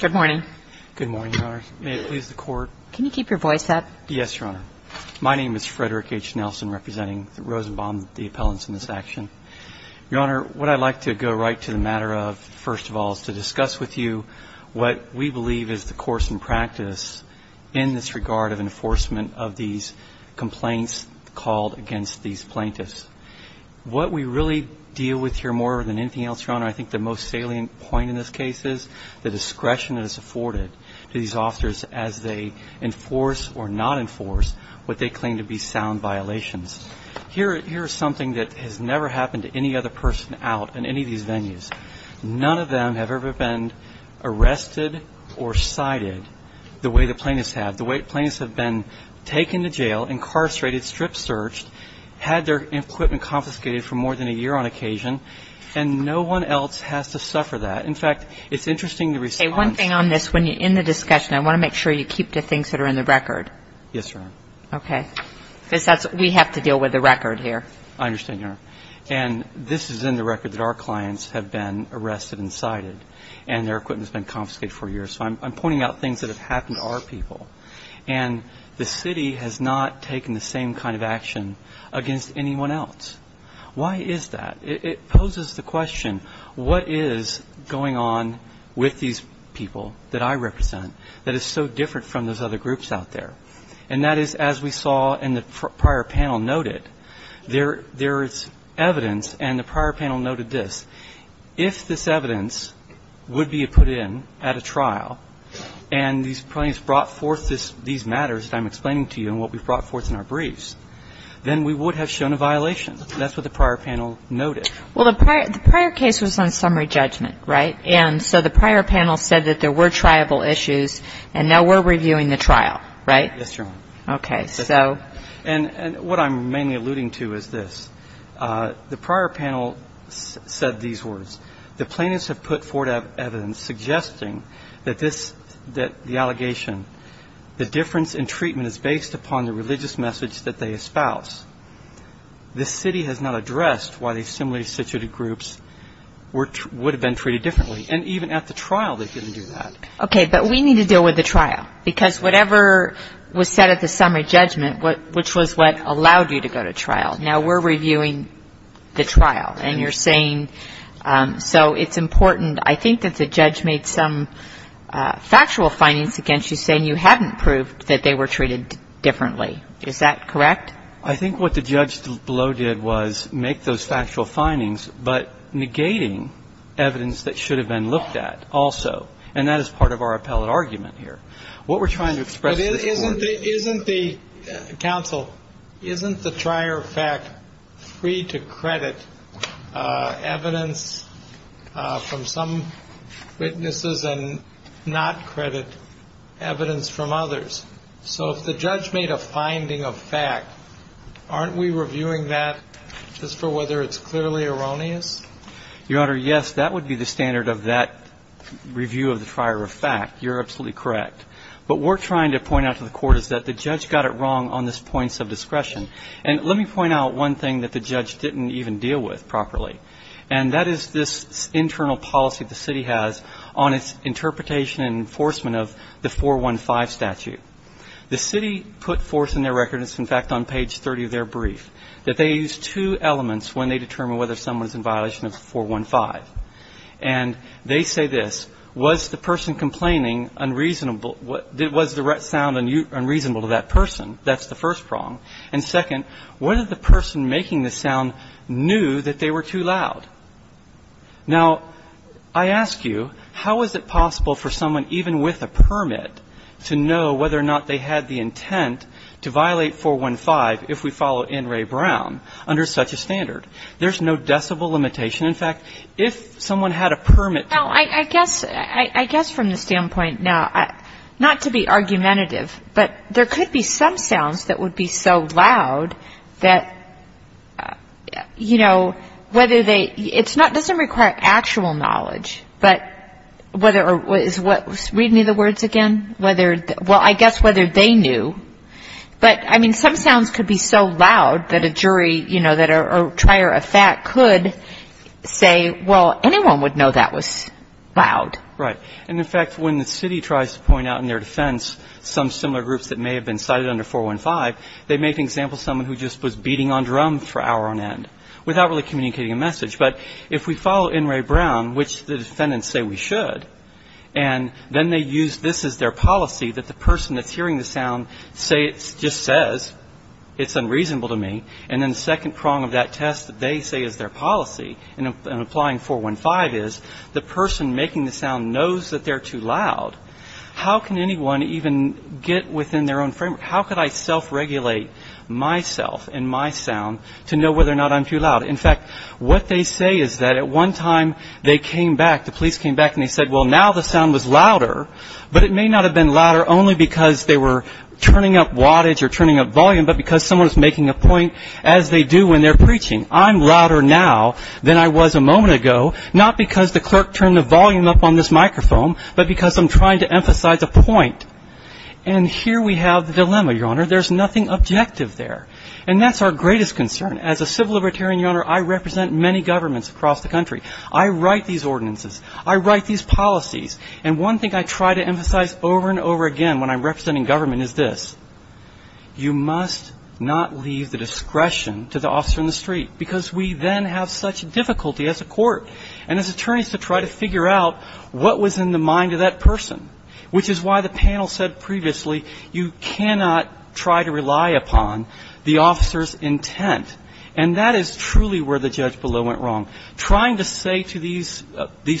Good morning. Good morning, Your Honor. May it please the Court? Can you keep your voice up? Yes, Your Honor. My name is Frederick H. Nelson, representing Rosenbaum, the appellants in this action. Your Honor, what I'd like to go right to the matter of, first of all, is to discuss with you what we believe is the course and practice in this regard of enforcement of these complaints called against these plaintiffs. What we really deal with here more than anything else, Your Honor, I think the most salient point in this case is the discretion that is afforded to these officers as they enforce or not enforce what they claim to be sound violations. Here is something that has never happened to any other person out in any of these venues. None of them have ever been arrested or cited the way the plaintiffs have. The way the plaintiffs have been taken to jail, incarcerated, strip searched, had their equipment confiscated for more than a year on occasion, and no one else has to suffer that. In fact, it's interesting the response Okay, one thing on this. When you're in the discussion, I want to make sure you keep the things that are in the record. Yes, Your Honor. Okay. Because that's what we have to deal with, the record here. I understand, Your Honor. And this is in the record that our clients have been arrested and cited, and their equipment has been confiscated for years. So I'm pointing out things that have happened to our people. And the city has not taken the same kind of action against anyone else. Why is that? It poses the question, what is going on with these people that I represent that is so different from those other groups out there? And that is, as we saw in the prior panel noted, there is evidence, and the prior panel noted this, if this evidence would be put in at a trial, and these plaintiffs brought forth these matters that I'm explaining to you and what we brought forth in our briefs, then we would have shown a violation. That's what the prior panel noted. Well, the prior case was on summary judgment, right? And so the prior panel said that there were triable issues, and now we're reviewing the trial, right? Yes, Your Honor. Okay. And what I'm mainly alluding to is this. The prior panel said these words. The plaintiffs have put forth evidence suggesting that the allegation, the difference in treatment is based upon the religious message that they espouse. This city has not addressed why these similarly situated groups would have been treated differently. And even at the trial, they didn't do that. Okay, but we need to deal with the trial. Because whatever was said at the summary judgment, which was what allowed you to go to trial, now we're reviewing the trial, and you're saying, so it's important. I think that the judge made some factual findings against you saying you hadn't proved that they were treated differently. Is that correct? I think what the judge below did was make those factual findings, but negating evidence that should have been looked at also. And that is part of our appellate argument here. What we're trying to express in this court – But isn't the – counsel, isn't the trier of fact free to credit evidence from some witnesses and not credit evidence from others? So if the judge made a finding of fact, aren't we reviewing that just for whether it's clearly erroneous? Your Honor, yes, that would be the standard of that review of the trier of fact. You're absolutely correct. But what we're trying to point out to the court is that the judge got it wrong on this point of discretion. And let me point out one thing that the judge didn't even deal with properly. And that is this internal policy the city has on its interpretation and enforcement of the 415 statute. The city put forth in their record – it's, in fact, on page 30 of their brief – that they use two elements when they determine whether someone is in violation of 415. And they say this, was the person complaining unreasonable – was the sound unreasonable to that person? That's the first prong. And second, whether the person making the sound knew that they were too loud. Now I ask you, how is it possible for someone even with a permit to know whether or not they had the intent to violate 415 if we follow N. Ray Brown under such a standard? There's no decibel limitation. In fact, if someone had a permit to know. Now, I guess from the standpoint now – not to be argumentative, but there could be some sounds that would be so loud that, you know, whether they – it doesn't require actual knowledge. But whether – read me the words again. Whether – well, I guess whether they knew – but, I mean, some sounds could be so loud that a jury, you know, that a trier of fact could say, well, anyone would know that was loud. Right. And, in fact, when the city tries to point out in their defense some similar groups that may have been cited under 415, they make an example of someone who just was beating on drum for hour on end without really communicating a message. But if we follow N. Ray Brown, which the defendants say we should, and then they use this as their policy that the person that's hearing the sound say – just says, it's unreasonable to me. And then the second prong of that test that they say is their policy in applying 415 is the person making the sound knows that they're too loud. How can anyone even get within their own framework? How could I self-regulate myself and my sound to know whether or not I'm too loud? In fact, what they say is that at one time they came back – the police came back and they said, well, now the sound was louder, but it may not have been louder only because they were turning up wattage or turning up volume, but because someone was making a point as they do when they're preaching. I'm louder now than I was a moment ago, not because the clerk turned the volume up on this microphone, but because I'm trying to emphasize a point. And here we have the dilemma, Your Honor. There's nothing objective there. And that's our greatest concern. As a civil libertarian, Your Honor, I represent many governments across the country. I write these ordinances. I write these policies. And one thing I try to emphasize over and over again when I'm representing government is this. You must not leave the discretion to the officer in the street, because we then have such difficulty as a court and as attorneys to try to figure out what was in the mind of that person, which is why the panel said previously you cannot try to rely upon the officer's intent. And that is truly where the judge below went wrong. Trying to say to these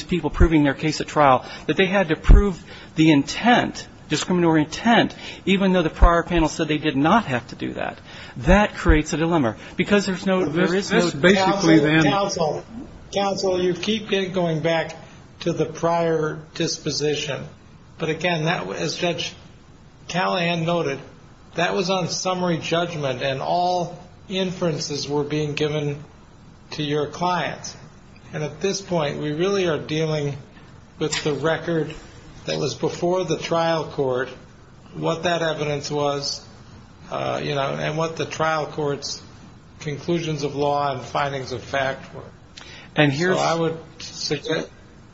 people proving their case at trial that they had to prove the intent, discriminatory intent, even though the prior panel said they did not have to do that, that creates a dilemma. Because there's no, there is no. That's basically the end. Counsel, you keep going back to the prior disposition. But again, as Judge Callahan noted, that was on summary judgment and all inferences were being given to your clients. And at this point, we really are dealing with the record that was before the trial court, what that evidence was, you know, and what the trial court's conclusions of law and findings of fact were. And so I would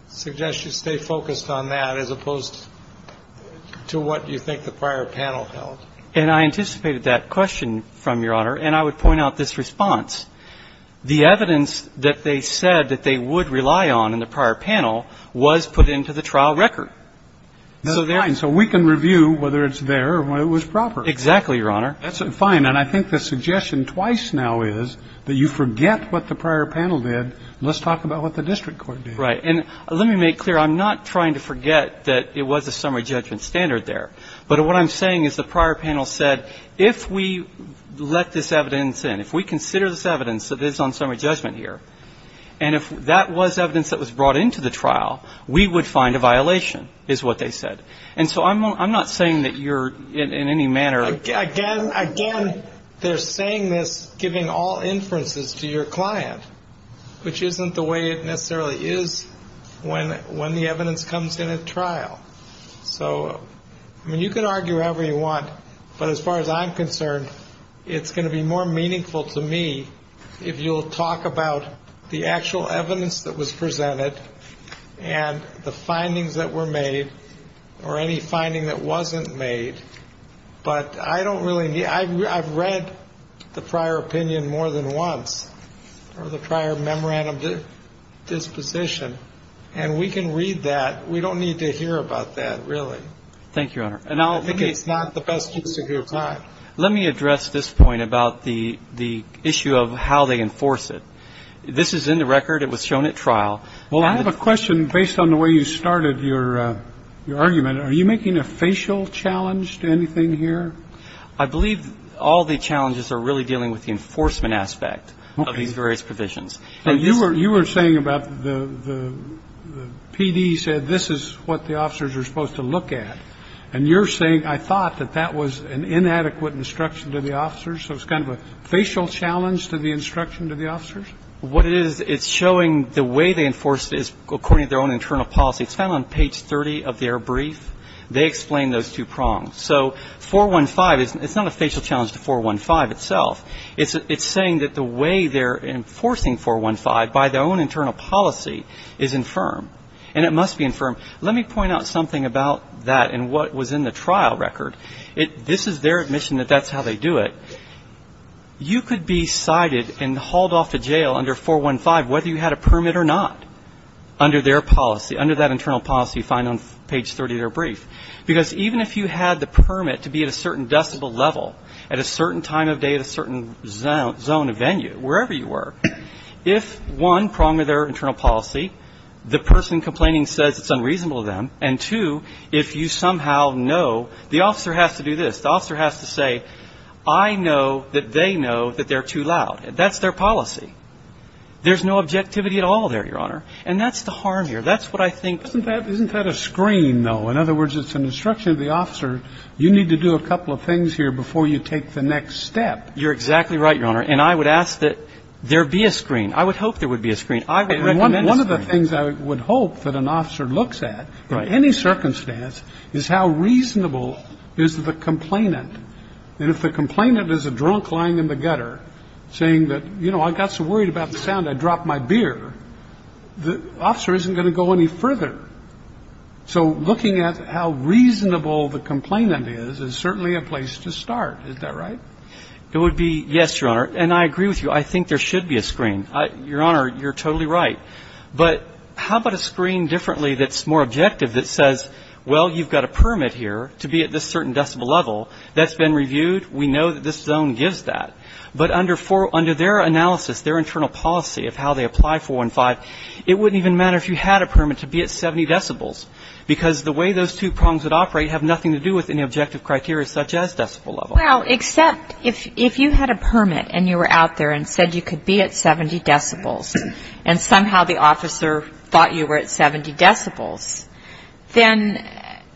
suggest you stay focused on that as opposed to what you think the prior panel held. And I anticipated that question from Your Honor, and I would point out this response. The evidence that they said that they would rely on in the prior panel was put into the trial record. So there's no we can review whether it's there or whether it was proper. Exactly, Your Honor. That's fine. And I think the suggestion twice now is that you forget what the prior panel did. Let's talk about what the district court did. Right. And let me make clear, I'm not trying to forget that it was a summary judgment standard there. But what I'm saying is the prior panel said, if we let this evidence in, if we consider this evidence that is on summary judgment here, and if that was evidence that was brought into the trial, we would find a violation, is what they said. And so I'm not saying that you're in any manner. Again, they're saying this, giving all inferences to your client, which isn't the way it necessarily is when the evidence comes in at trial. So, I mean, you can argue however you want. But as far as I'm concerned, it's going to be more meaningful to me if you'll talk about the actual evidence that was presented and the findings that were made or any finding that wasn't made. But I don't really I've read the prior opinion more than once or the prior memorandum disposition. And we can read that. We don't need to hear about that, really. Thank you, Your Honor. And I think it's not the best use of your time. Let me address this point about the the issue of how they enforce it. This is in the record. It was shown at trial. Well, I have a question based on the way you started your argument. Are you making a facial challenge to anything here? I believe all the challenges are really dealing with the enforcement aspect of these various provisions. You were saying about the PD said this is what the officers are supposed to look at. And you're saying I thought that that was an inadequate instruction to the officers. So it's kind of a facial challenge to the instruction to the officers? What it is, it's showing the way they enforce it is according to their own internal policy. It's found on page 30 of their brief. They explain those two prongs. So 415, it's not a facial challenge to 415 itself. It's saying that the way they're enforcing 415 by their own internal policy is infirm. And it must be infirm. Let me point out something about that and what was in the trial record. This is their admission that that's how they do it. You could be cited and hauled off to jail under 415 whether you had a permit or not under their policy, under that internal policy you find on page 30 of their brief. Because even if you had the permit to be at a certain decibel level at a certain time of day at a certain zone of venue, wherever you were, if one, prong of their internal policy, the person complaining says it's unreasonable to them, and two, if you somehow know the officer has to do this, the officer has to say, I know that they know that they're too loud. That's their policy. There's no objectivity at all there, Your Honor. And that's the harm here. That's what I think. Isn't that a screen, though? In other words, it's an instruction to the officer, you need to do a couple of things here before you take the next step. You're exactly right, Your Honor. And I would ask that there be a screen. I would hope there would be a screen. I would recommend a screen. One of the things I would hope that an officer looks at in any circumstance is how reasonable is the complainant. And if the complainant is a drunk lying in the gutter saying that, you know, I got so worried about the sound I dropped my beer, the officer isn't going to go any further. So looking at how reasonable the complainant is is certainly a place to start. Isn't that right? It would be, yes, Your Honor. And I agree with you. I think there should be a screen. Your Honor, you're totally right. But how about a screen differently that's more objective that says, well, you've got a permit here to be at this certain decibel level that's been reviewed. We know that this zone gives that. But under their analysis, their internal policy of how they apply 415, it wouldn't even matter if you had a permit to be at 70 decibels because the way those two prongs would operate have nothing to do with any objective criteria such as decibel level. Well, except if you had a permit and you were out there and said you could be at 70 decibels and somehow the officer thought you were at 70 decibels, then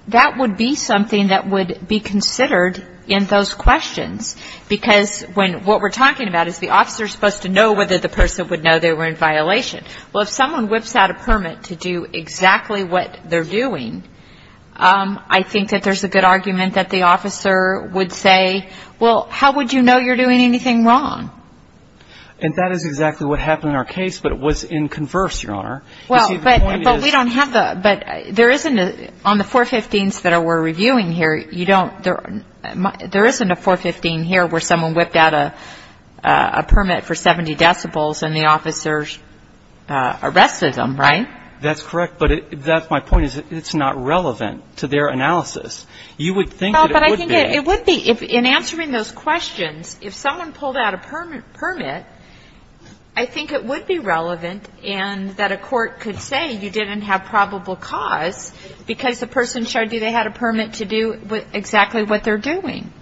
that would be something that would be considered in those questions. Because when what we're talking about is the officer is supposed to know whether the person would know they were in violation. Well, if someone whips out a permit to do exactly what they're doing, I think that there's a good argument that the officer would say, well, how would you know you're doing anything wrong? And that is exactly what happened in our case, but it was in converse, Your Honor. Well, but we don't have the – but there isn't a – on the 415s that we're reviewing here, you don't – there isn't a 415 here where someone whipped out a permit and arrested them, right? That's correct. But that's my point, is that it's not relevant to their analysis. You would think that it would be. Well, but I think it would be. In answering those questions, if someone pulled out a permit, I think it would be relevant and that a court could say you didn't have probable cause because the person showed you they had a permit to do exactly what they're doing.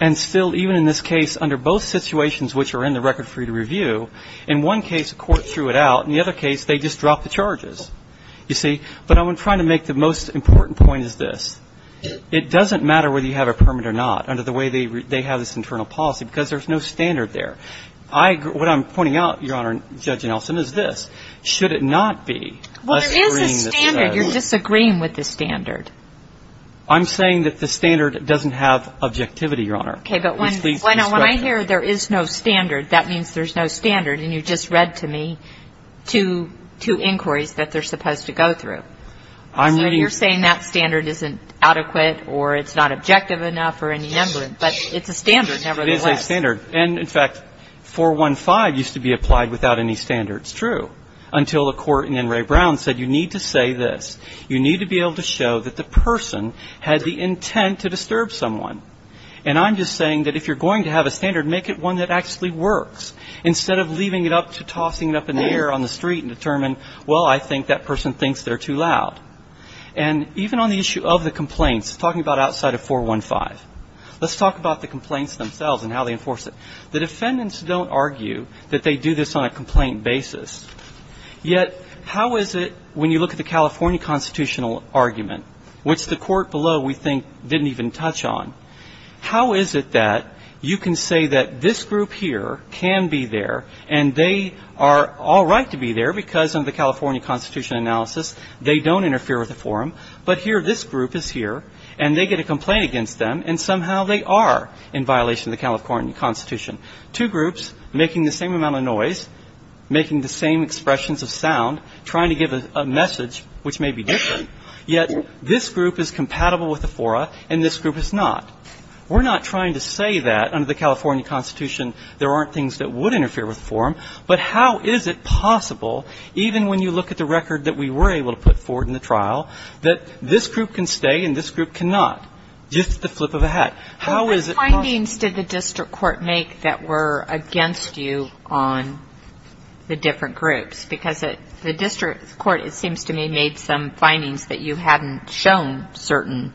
And still, even in this case, under both situations which are in the record for you to review, in one case, a court threw it out. In the other case, they just dropped the charges, you see? But I'm trying to make the most important point is this. It doesn't matter whether you have a permit or not under the way they have this internal policy because there's no standard there. I – what I'm pointing out, Your Honor, Judge Nelson, is this. Should it not be – Well, there is a standard. You're disagreeing with the standard. I'm saying that the standard doesn't have objectivity, Your Honor. Okay, but when I hear there is no standard, that means there's no standard and you just read to me two inquiries that they're supposed to go through. So you're saying that standard isn't adequate or it's not objective enough or any number, but it's a standard nevertheless. It is a standard. And in fact, 415 used to be applied without any standards, true, until a court in Enray Brown said you need to say this. You need to be able to show that the person had the intent to disturb someone. And I'm just saying that if you're going to have a standard, make it one that actually works instead of leaving it up to tossing it up in the air on the street and determine, well, I think that person thinks they're too loud. And even on the issue of the complaints, talking about outside of 415, let's talk about the complaints themselves and how they enforce it. The defendants don't argue that they do this on a complaint basis, yet how is it when you look at the California constitutional argument, which the court below we think didn't even touch on, how is it that you can say that this group here can be there and they are all right to be there because of the California constitution analysis, they don't interfere with the forum, but here this group is here and they get a complaint against them and somehow they are in violation of the California constitution. Two groups making the same amount of noise, making the same expressions of sound, trying to give a message which may be different, yet this group is compatible with the fora and this group is not. We're not trying to say that under the California constitution there aren't things that would interfere with the forum, but how is it possible, even when you look at the record that we were able to put forward in the trial, that this group can stay and this group cannot? Just the flip of a hat. How is it possible? Well, what findings did the district court make that were against you on the different groups? Because the district court, it seems to me, made some findings that you hadn't shown certain,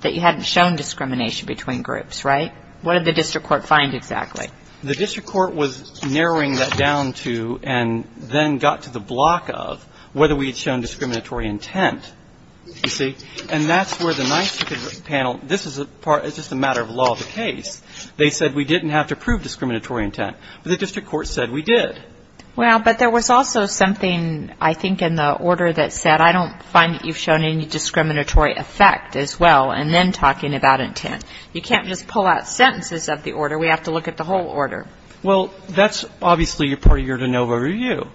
that you hadn't shown discrimination between groups, right? What did the district court find exactly? The district court was narrowing that down to and then got to the block of whether we had shown discriminatory intent, you see, and that's where the NICE panel, this is just a matter of law of the case. They said we didn't have to prove discriminatory intent, but the district court said we did. Well, but there was also something, I think, in the order that said I don't find that you've had a discriminatory effect as well, and then talking about intent. You can't just pull out sentences of the order. We have to look at the whole order. Well, that's obviously your part of your de novo review.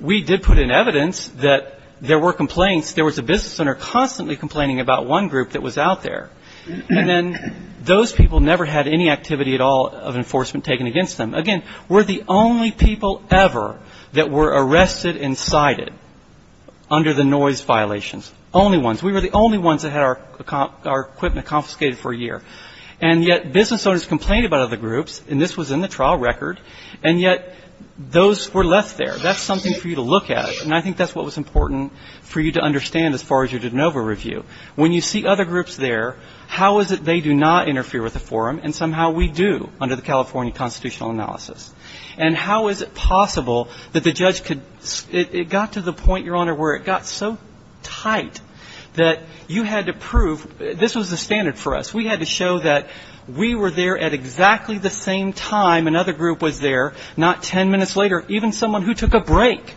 We did put in evidence that there were complaints. There was a business owner constantly complaining about one group that was out there, and then those people never had any activity at all of enforcement taken against them. Again, we're the only people ever that were arrested and cited under the noise violations. Only ones. We were the only ones that had our equipment confiscated for a year. And yet business owners complained about other groups, and this was in the trial record, and yet those were left there. That's something for you to look at, and I think that's what was important for you to understand as far as your de novo review. When you see other groups there, how is it they do not interfere with the forum, and somehow we do under the California constitutional analysis? And how is it possible that the judge could ‑‑ it got to the point, Your Honor, where it got so tight that you had to prove ‑‑ this was the standard for us. We had to show that we were there at exactly the same time another group was there, not ten minutes later. Even someone who took a break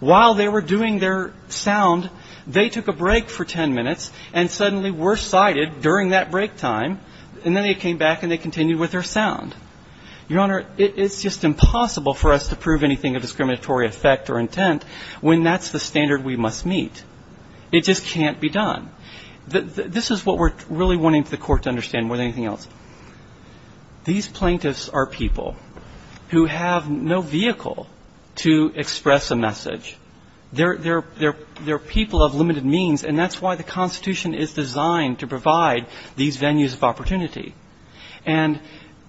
while they were doing their sound, they took a break for ten minutes and suddenly were cited during that break time, and then they came back and they continued with their sound. Your Honor, it's just impossible for us to prove anything of discriminatory effect or we must meet. It just can't be done. This is what we're really wanting for the court to understand more than anything else. These plaintiffs are people who have no vehicle to express a message. They're people of limited means, and that's why the Constitution is designed to provide these venues of opportunity. And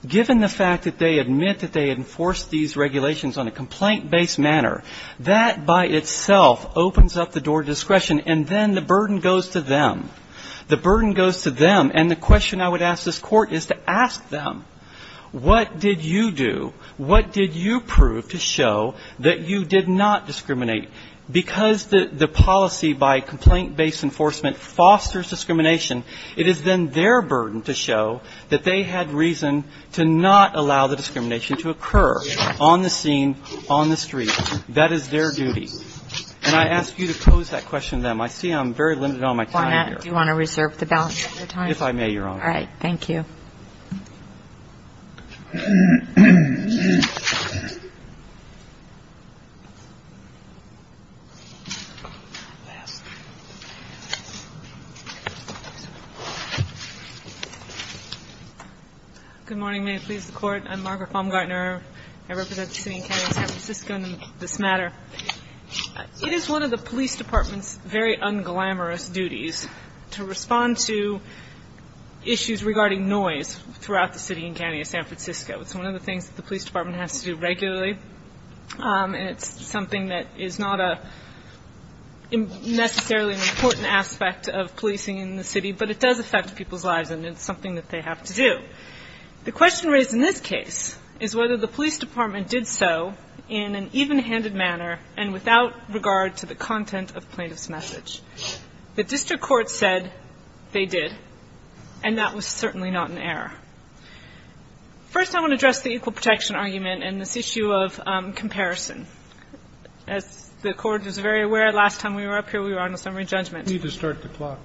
given the fact that they admit that they enforce these regulations on a complaint-based manner, that by itself opens up the door to discretion, and then the burden goes to them. The burden goes to them, and the question I would ask this court is to ask them, what did you do? What did you prove to show that you did not discriminate? Because the policy by complaint-based enforcement fosters discrimination, it is then their burden to show that they had reason to not allow the discrimination to occur on the scene, on the street. That is their duty. And I ask you to pose that question to them. I see I'm very limited on my time here. Do you want to reserve the balance of your time? If I may, Your Honor. All right. Thank you. Good morning. May it please the Court. I'm Margaret Baumgartner. I represent the city and county of San Francisco in this matter. It is one of the police department's very unglamorous duties to respond to issues regarding noise throughout the city and county of San Francisco. It's one of the things that the police department has to do regularly, and it's something that is not necessarily an important aspect of policing in the city, but it does affect people's lives, and it's something that they have to do. The question raised in this case is whether the police department did so in an even-handed manner and without regard to the content of plaintiff's message. The district court said they did, and that was certainly not an error. First, I want to address the equal protection argument and this issue of comparison. As the Court is very aware, last time we were up here, we were on a summary judgment. We need to start the clock.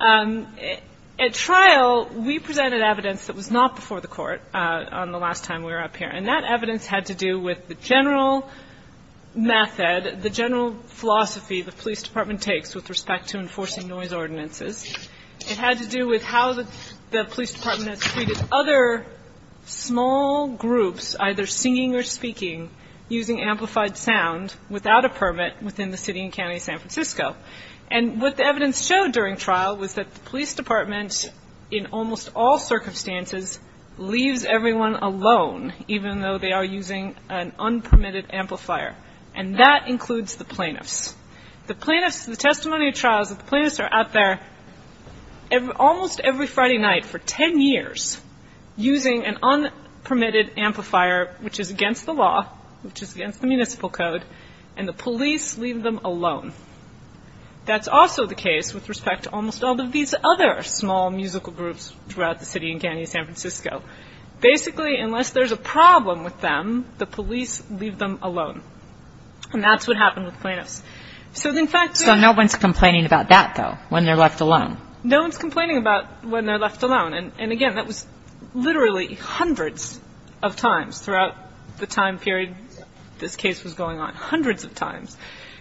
At trial, we presented evidence that was not before the Court on the last time we were up here, and that evidence had to do with the general method, the general philosophy the police department takes with respect to enforcing noise ordinances. It had to do with how the police department has treated other small groups, either singing or speaking, using amplified sound without a permit within the city and county of San Francisco. And what the evidence showed during trial was that the police department, in almost all circumstances, leaves everyone alone, even though they are using an unpermitted amplifier, and that includes the plaintiffs. The plaintiffs, the testimony of trials, the plaintiffs are out there almost every Friday night for 10 years using an unpermitted amplifier, which is against the law, which is against the municipal code, and the police leave them alone. That's also the case with respect to almost all of these other small musical groups throughout the city and county of San Francisco. Basically, unless there's a problem with them, the police leave them alone. And that's what happened with plaintiffs. So, in fact, no one's complaining about that, though, when they're left alone. No one's complaining about when they're left alone. And again, that was literally hundreds of times throughout the time period this case was going on, hundreds of times.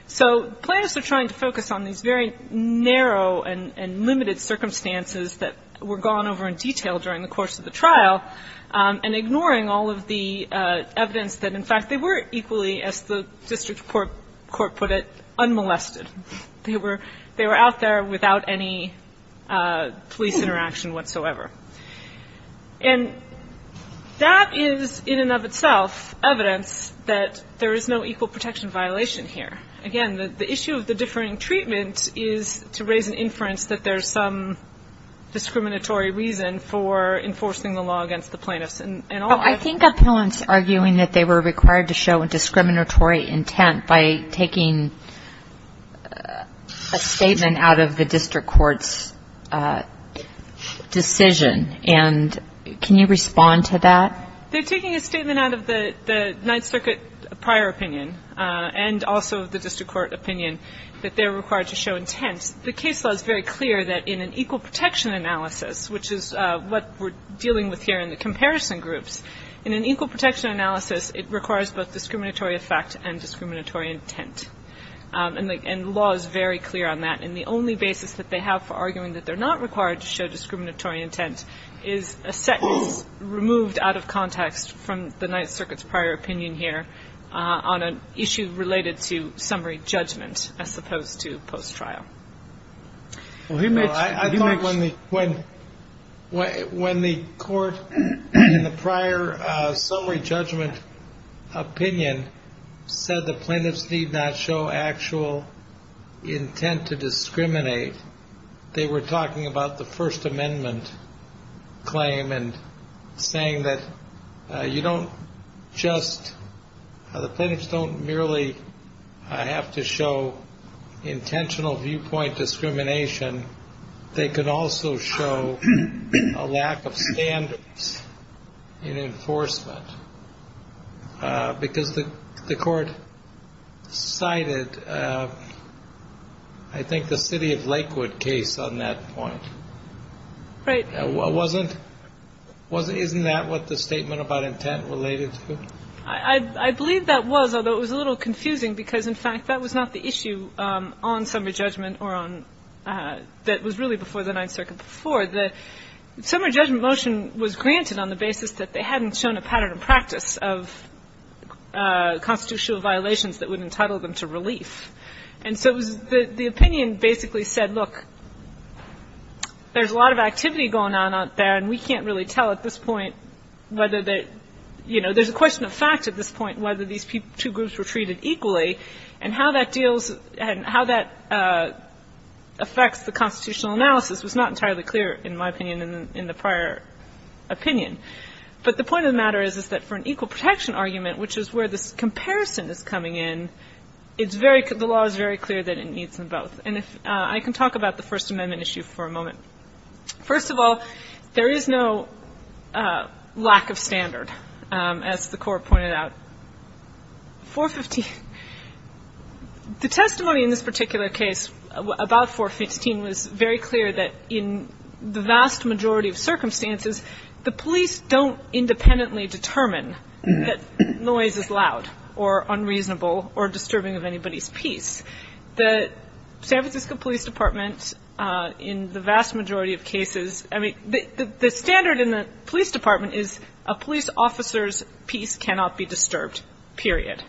So plaintiffs are trying to focus on these very narrow and limited circumstances that were gone over in detail during the course of the trial and ignoring all of the evidence that, in fact, they were equally, as the district court put it, unmolested. They were out there without any police interaction whatsoever. And that is, in and of itself, evidence that there is no equal protection violation here. Again, the issue of the differing treatment is to raise an inference that there's some discriminatory reason for enforcing the law against the plaintiffs. And I think appellants arguing that they were required to show a discriminatory intent by taking a statement out of the district court's decision. And can you respond to that? They're taking a statement out of the Ninth Circuit prior opinion and also the district court opinion that they're required to show intent. The case law is very clear that in an equal protection analysis, which is what we're dealing with here in the comparison groups, in an equal protection analysis, it requires both discriminatory effect and discriminatory intent. And the law is very clear on that. And the only basis that they have for arguing that they're not required to show intent is in the context from the Ninth Circuit's prior opinion here on an issue related to summary judgment, as opposed to post-trial. Well, I thought when the court in the prior summary judgment opinion said the plaintiffs need not show actual intent to discriminate, they were talking about the First District. You don't just, the plaintiffs don't merely have to show intentional viewpoint discrimination. They could also show a lack of standards in enforcement because the court cited, I think, the city of Lakewood case on that point. Right. Wasn't, wasn't, isn't that what the statement about intent related to? I believe that was, although it was a little confusing because, in fact, that was not the issue on summary judgment or on, that was really before the Ninth Circuit before. The summary judgment motion was granted on the basis that they hadn't shown a pattern of practice of constitutional violations that would entitle them to relief. And so the opinion basically said, look, there's a lot of activity going on out there and we can't really tell at this point whether they, you know, there's a question of fact at this point, whether these two groups were treated equally and how that deals and how that affects the constitutional analysis was not entirely clear, in my opinion, in the prior opinion. But the point of the matter is, is that for an equal protection argument, which is where this comparison is coming in, it's very, the law is very clear that it needs them both. And if I can talk about the First Amendment issue for a moment. First of all, there is no lack of standard, as the court pointed out. 415, the testimony in this particular case about 415 was very clear that in the vast majority of cases, I mean, the standard in the police department is a police officer's piece cannot be disturbed, period.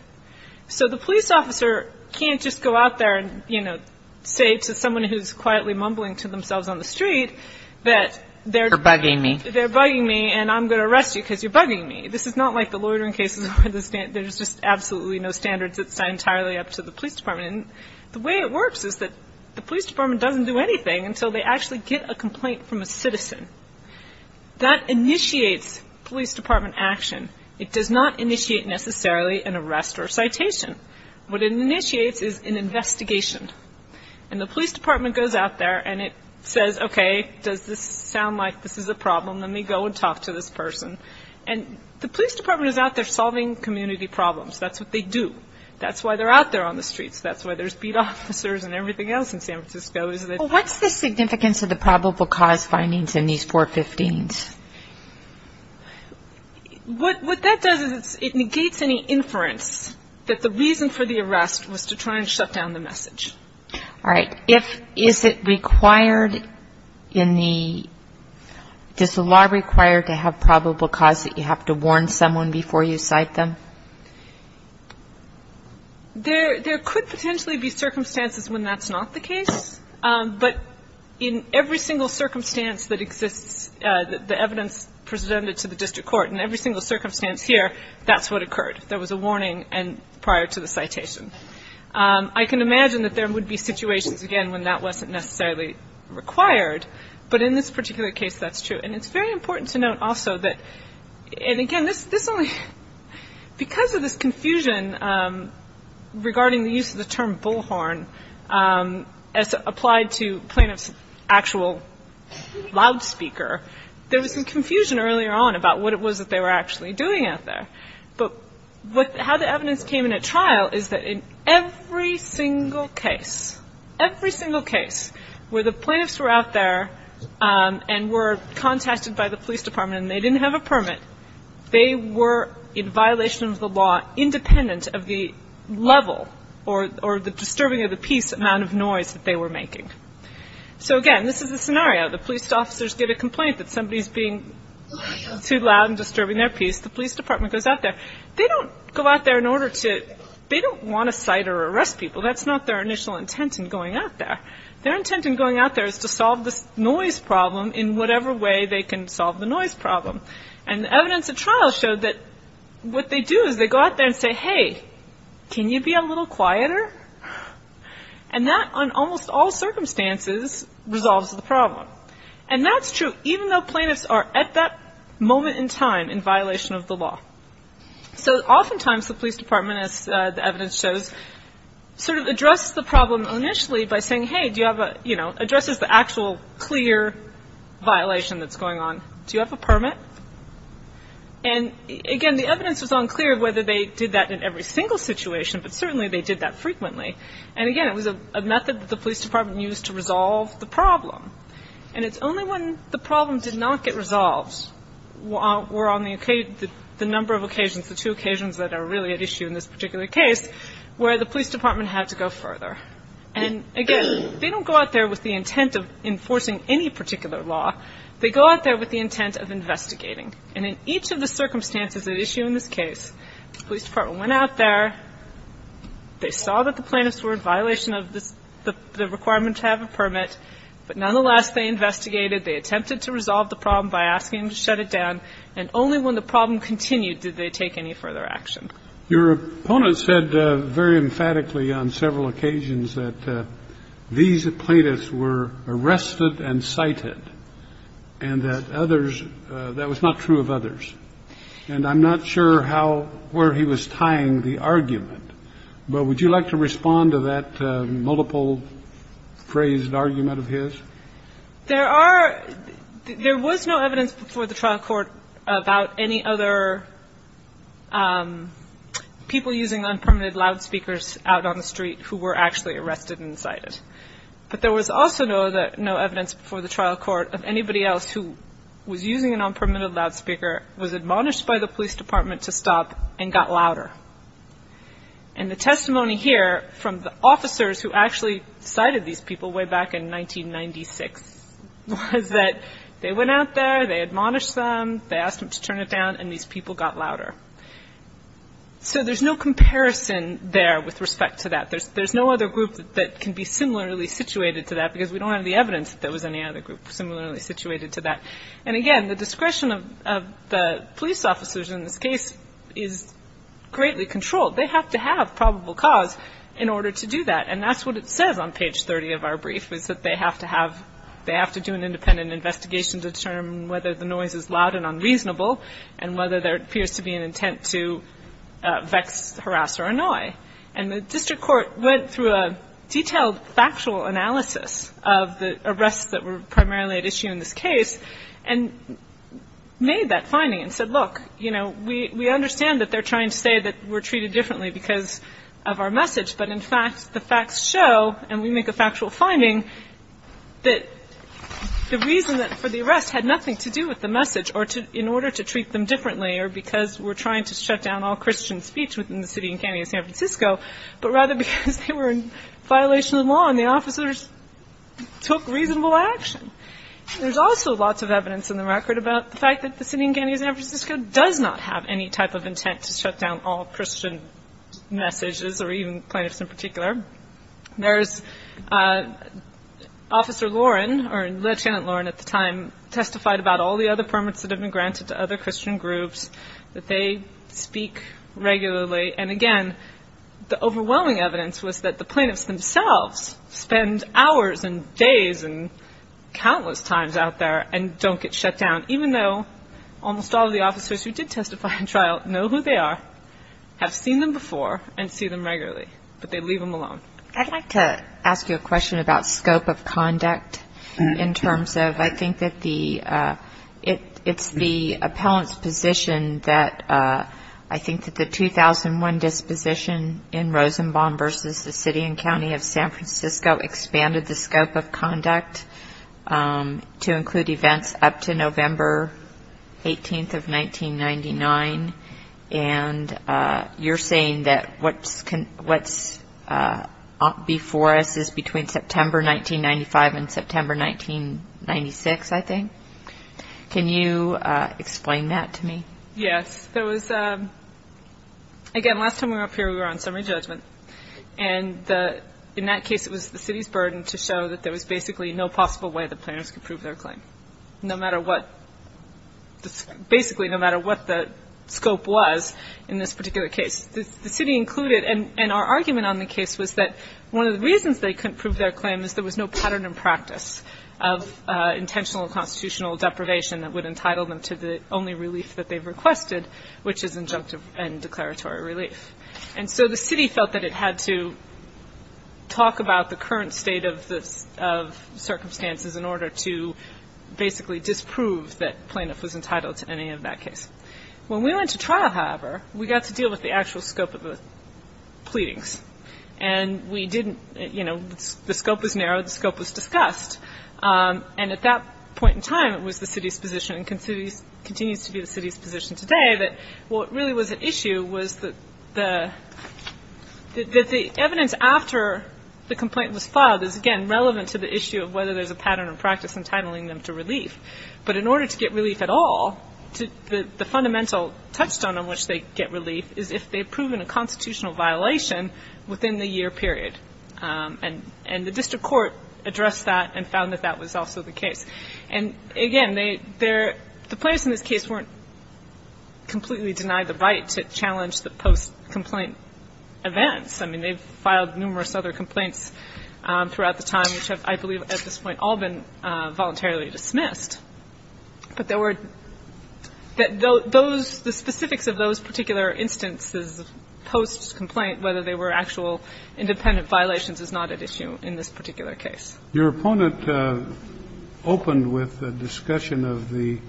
So the police officer can't just go out there and, you know, say to someone who's quietly mumbling to themselves on the street that they're bugging me, they're bugging me and I'm going to arrest you because you're bugging me. This is not like the loitering cases where there's just absolutely no standards. It's entirely up to the police department. And the way it works is that the police department doesn't do anything until they actually get a complaint from a citizen. That initiates police department action. It does not initiate necessarily an arrest or citation. What it initiates is an investigation. And the police department goes out there and it says, okay, does this sound like this is a problem? Let me go and talk to this person. And the police department is out there solving community problems. That's what they do. That's why they're out there on the streets. That's why there's beat officers and everything else in San Francisco. What's the significance of the probable cause findings in these 415s? What that does is it negates any inference that the reason for the arrest was to try and shut down the message. All right. If, is it required in the, does the law require to have probable cause that you have to warn someone before you cite them? There, there could potentially be circumstances when that's not the case. Um, but in every single circumstance that exists, uh, the evidence presented to the district court in every single circumstance here, that's what occurred. There was a warning and prior to the citation. Um, I can imagine that there would be situations again when that wasn't necessarily required, but in this particular case, that's true. And it's very important to note also that, and again, this, this only, because of this confusion, um, regarding the use of the term bullhorn, um, as applied to plaintiff's actual loudspeaker, there was some confusion earlier on about what it was that they were actually doing out there. But what, how the evidence came in at trial is that in every single case, every single case where the plaintiffs were out there, um, and were contested by the police department and they didn't have a permit, they were in violation of the law, independent of the level or, or the disturbing of the peace amount of noise that they were making. So again, this is a scenario. The police officers get a complaint that somebody's being too loud and disturbing their peace. The police department goes out there. They don't go out there in order to, they don't want to cite or arrest people. That's not their initial intent in going out there. Their intent in going out there is to solve this noise problem in whatever way they can solve the noise problem. And the evidence at trial showed that what they do is they go out there and say, hey, can you be a little quieter? And that on almost all circumstances resolves the problem. And that's true, even though plaintiffs are at that moment in time in violation of the law. So oftentimes the police department, as the evidence shows, sort of address the problem initially by saying, hey, do you have a, you know, addresses the actual clear violation that's going on. Do you have a permit? And again, the evidence was unclear of whether they did that in every single situation, but certainly they did that frequently. And again, it was a method that the police department used to resolve the problem. And it's only when the problem did not get resolved were on the number of occasions, the two occasions that are really at issue in this particular case, where the police department had to go further. And again, they don't go out there with the intent of enforcing any particular law, they go out there with the intent of investigating. And in each of the circumstances at issue in this case, the police department went out there, they saw that the plaintiffs were in violation of this, the requirement to have a permit, but nonetheless, they investigated, they attempted to resolve the problem by asking to shut it down. And only when the problem continued, did they take any further action. Your opponent said very emphatically on several occasions that these plaintiffs were arrested and cited and that others, that was not true of others. And I'm not sure how, where he was tying the argument, but would you like to give multiple phrased argument of his? There are, there was no evidence before the trial court about any other people using unpermitted loudspeakers out on the street who were actually arrested and cited, but there was also no evidence before the trial court of anybody else who was using an unpermitted loudspeaker, was admonished by the police department to stop and got louder. And the testimony here from the officers who actually cited these people way back in 1996 was that they went out there, they admonished them, they asked them to turn it down and these people got louder. So there's no comparison there with respect to that. There's, there's no other group that can be similarly situated to that because we don't have the evidence that there was any other group similarly situated to that. And again, the discretion of, of the police officers in this case is greatly controlled. They have to have probable cause in order to do that. And that's what it says on page 30 of our brief was that they have to have, they have to do an independent investigation to determine whether the noise is loud and unreasonable and whether there appears to be an intent to vex, harass, or annoy. And the district court went through a detailed factual analysis of the arrests that were primarily at issue in this case and made that finding and said, look, you know, we're not trying to say that we're treated differently because of our message, but in fact, the facts show, and we make a factual finding that the reason that for the arrest had nothing to do with the message or to, in order to treat them differently or because we're trying to shut down all Christian speech within the city and county of San Francisco, but rather because they were in violation of the law and the officers took reasonable action. There's also lots of evidence in the record about the fact that the city and all Christian messages or even plaintiffs in particular, there's officer Lauren or Lieutenant Lauren at the time testified about all the other permits that have been granted to other Christian groups that they speak regularly. And again, the overwhelming evidence was that the plaintiffs themselves spend hours and days and countless times out there and don't get shut down, even though almost all of the officers who did testify in trial know who they are. Have seen them before and see them regularly, but they leave them alone. I'd like to ask you a question about scope of conduct in terms of, I think that the, it's the appellant's position that I think that the 2001 disposition in Rosenbaum versus the city and county of San Francisco expanded the scope of You're saying that what's before us is between September 1995 and September 1996, I think, can you explain that to me? Yes. There was, again, last time we were up here, we were on summary judgment. And the, in that case, it was the city's burden to show that there was basically no possible way the plaintiffs could prove their claim. No matter what, basically, no matter what the scope was in this particular case, the city included, and our argument on the case was that one of the reasons they couldn't prove their claim is there was no pattern and practice of intentional constitutional deprivation that would entitle them to the only relief that they've requested, which is injunctive and declaratory relief. And so the city felt that it had to talk about the current state of circumstances in order to basically disprove that plaintiff was entitled to any of that case. When we went to trial, however, we got to deal with the actual scope of the pleadings. And we didn't, you know, the scope was narrowed, the scope was discussed. And at that point in time, it was the city's position and continues to be the city's position today that what really was at issue was that the evidence after the pattern and practice entitling them to relief. But in order to get relief at all, the fundamental touchstone on which they get relief is if they've proven a constitutional violation within the year period. And the district court addressed that and found that that was also the case. And again, the plaintiffs in this case weren't completely denied the right to challenge the post-complaint events. I mean, they've filed numerous other complaints throughout the time, which have, I believe, at this point, all been voluntarily dismissed. But there were that those the specifics of those particular instances of post-complaint, whether they were actual independent violations, is not at issue in this particular case. Your opponent opened with a discussion of the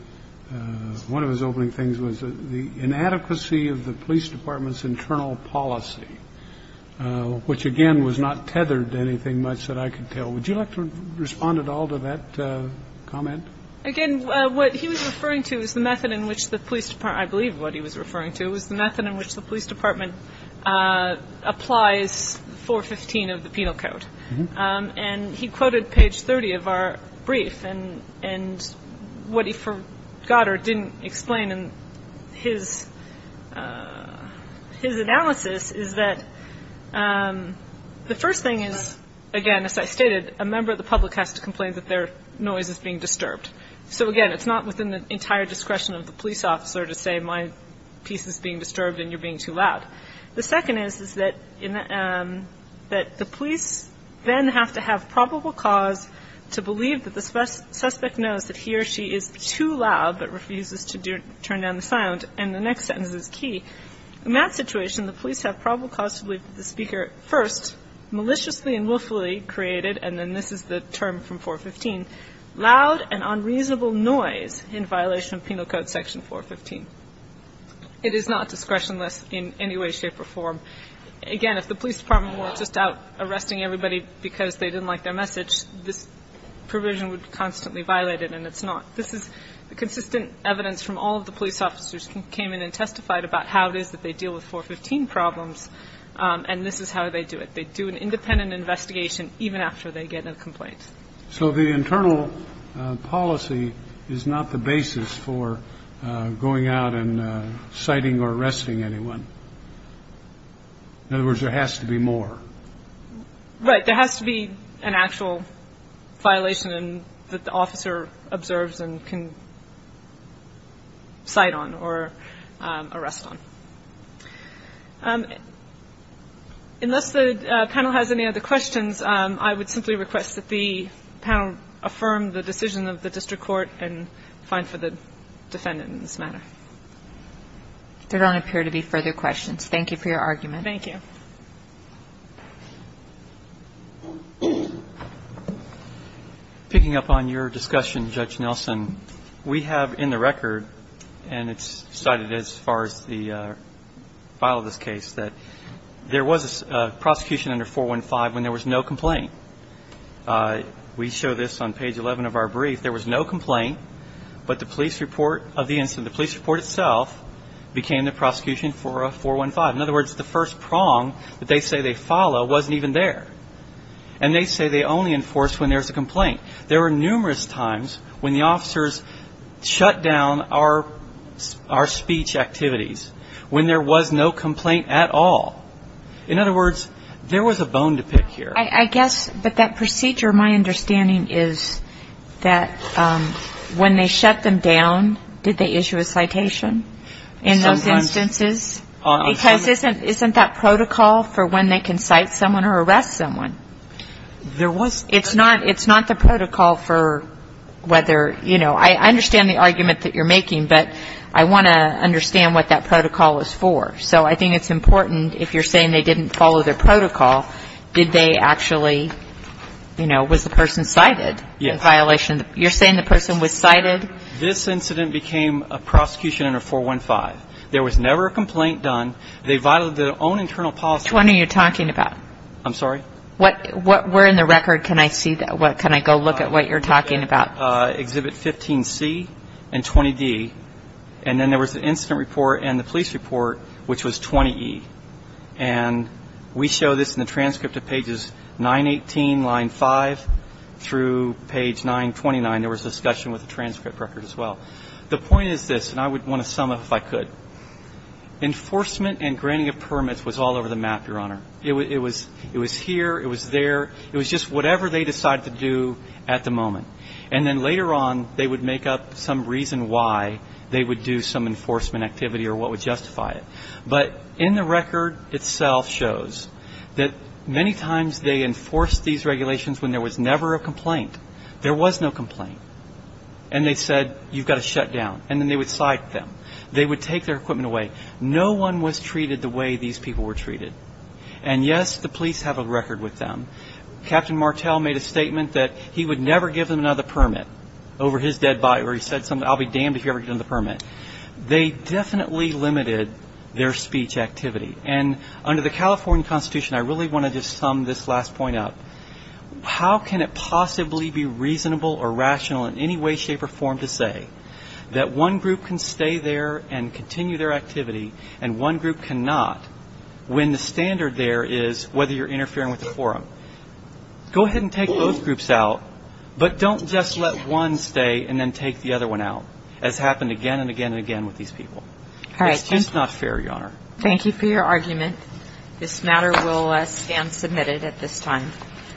one of his opening things was the inadequacy of the police department's internal policy, which, again, was not tethered to anything much that I could tell. Would you like to respond at all to that comment? Again, what he was referring to is the method in which the police department, I believe what he was referring to was the method in which the police department applies 415 of the penal code. And he quoted page 30 of our brief. And and what he forgot or didn't explain in his his analysis is that the first thing is, again, as I stated, a member of the public has to complain that their noise is being disturbed. So, again, it's not within the entire discretion of the police officer to say my piece is being disturbed and you're being too loud. The second is, is that that the police then have to have probable cause to believe that the suspect knows that he or she is too loud but refuses to turn down the sound. And the next sentence is key. In that situation, the police have probable cause to believe that the speaker first maliciously and willfully created, and then this is the term from 415, loud and unreasonable noise in violation of Penal Code Section 415. It is not discretionless in any way, shape or form. Again, if the police department were just out arresting everybody because they didn't like their message, this provision would constantly violate it. And it's not. This is consistent evidence from all of the police officers who came in and testified about how it is that they deal with 415 problems. And this is how they do it. They do an independent investigation even after they get a complaint. So the internal policy is not the basis for going out and citing or arresting anyone. In other words, there has to be more. Right. There has to be an actual violation that the officer observes and can cite on or arrest on. Unless the panel has any other questions, I would simply request that the panel affirm the decision of the district court and find for the defendant in this matter. There don't appear to be further questions. Thank you for your argument. Thank you. Picking up on your discussion, Judge Nelson, we have in the record and it's cited as far as the file of this case that there was a prosecution under 415 when there was no complaint. We show this on page 11 of our brief. There was no complaint, but the police report of the incident, the police report itself became the prosecution for a 415. In other words, the first prong that they say they follow wasn't even there. And they say they only enforce when there's a complaint. There were numerous times when the officers shut down our speech activities when there was no complaint at all. In other words, there was a bone to pick here. I guess. But that procedure, my understanding is that when they shut them down, did they issue a citation in those instances? Because isn't that protocol for when they can cite someone or arrest someone? There was. It's not. It's not the protocol for whether, you know, I understand the argument that you're making, but I want to understand what that protocol is for. So I think it's important if you're saying they didn't follow their protocol, did they actually, you know, was the person cited in violation? You're saying the person was cited. This incident became a prosecution under 415. There was never a complaint done. They violated their own internal policy. What are you talking about? I'm sorry. What? What? Where in the record can I see that? What? Can I go look at what you're talking about? Exhibit 15C and 20D. And then there was an incident report and the police report, which was 20E. And we show this in the transcript of pages 918, line 5 through page 929. There was a discussion with the transcript record as well. The point is this, and I would want to sum up if I could. Enforcement and granting of permits was all over the map, Your Honor. It was here. It was there. It was just whatever they decided to do at the moment. And then later on, they would make up some reason why they would do some enforcement activity or what would justify it. But in the record itself shows that many times they enforced these regulations when there was never a complaint. There was no complaint. And they said, you've got to shut down. And then they would cite them. They would take their equipment away. No one was treated the way these people were treated. And yes, the police have a record with them. Captain Martel made a statement that he would never give them another permit over his dead body. Or he said something, I'll be damned if you ever get another permit. They definitely limited their speech activity. And under the California Constitution, I really want to just sum this last point up. How can it possibly be reasonable or rational in any way, shape or form to say that one group can stay there and continue their activity and one group cannot when the standard there is whether you're interfering with the forum? Go ahead and take those groups out. But don't just let one stay and then take the other one out as happened again and again and again with these people. It's just not fair, Your Honor. Thank you for your argument. This matter will stand submitted at this time. Thank you.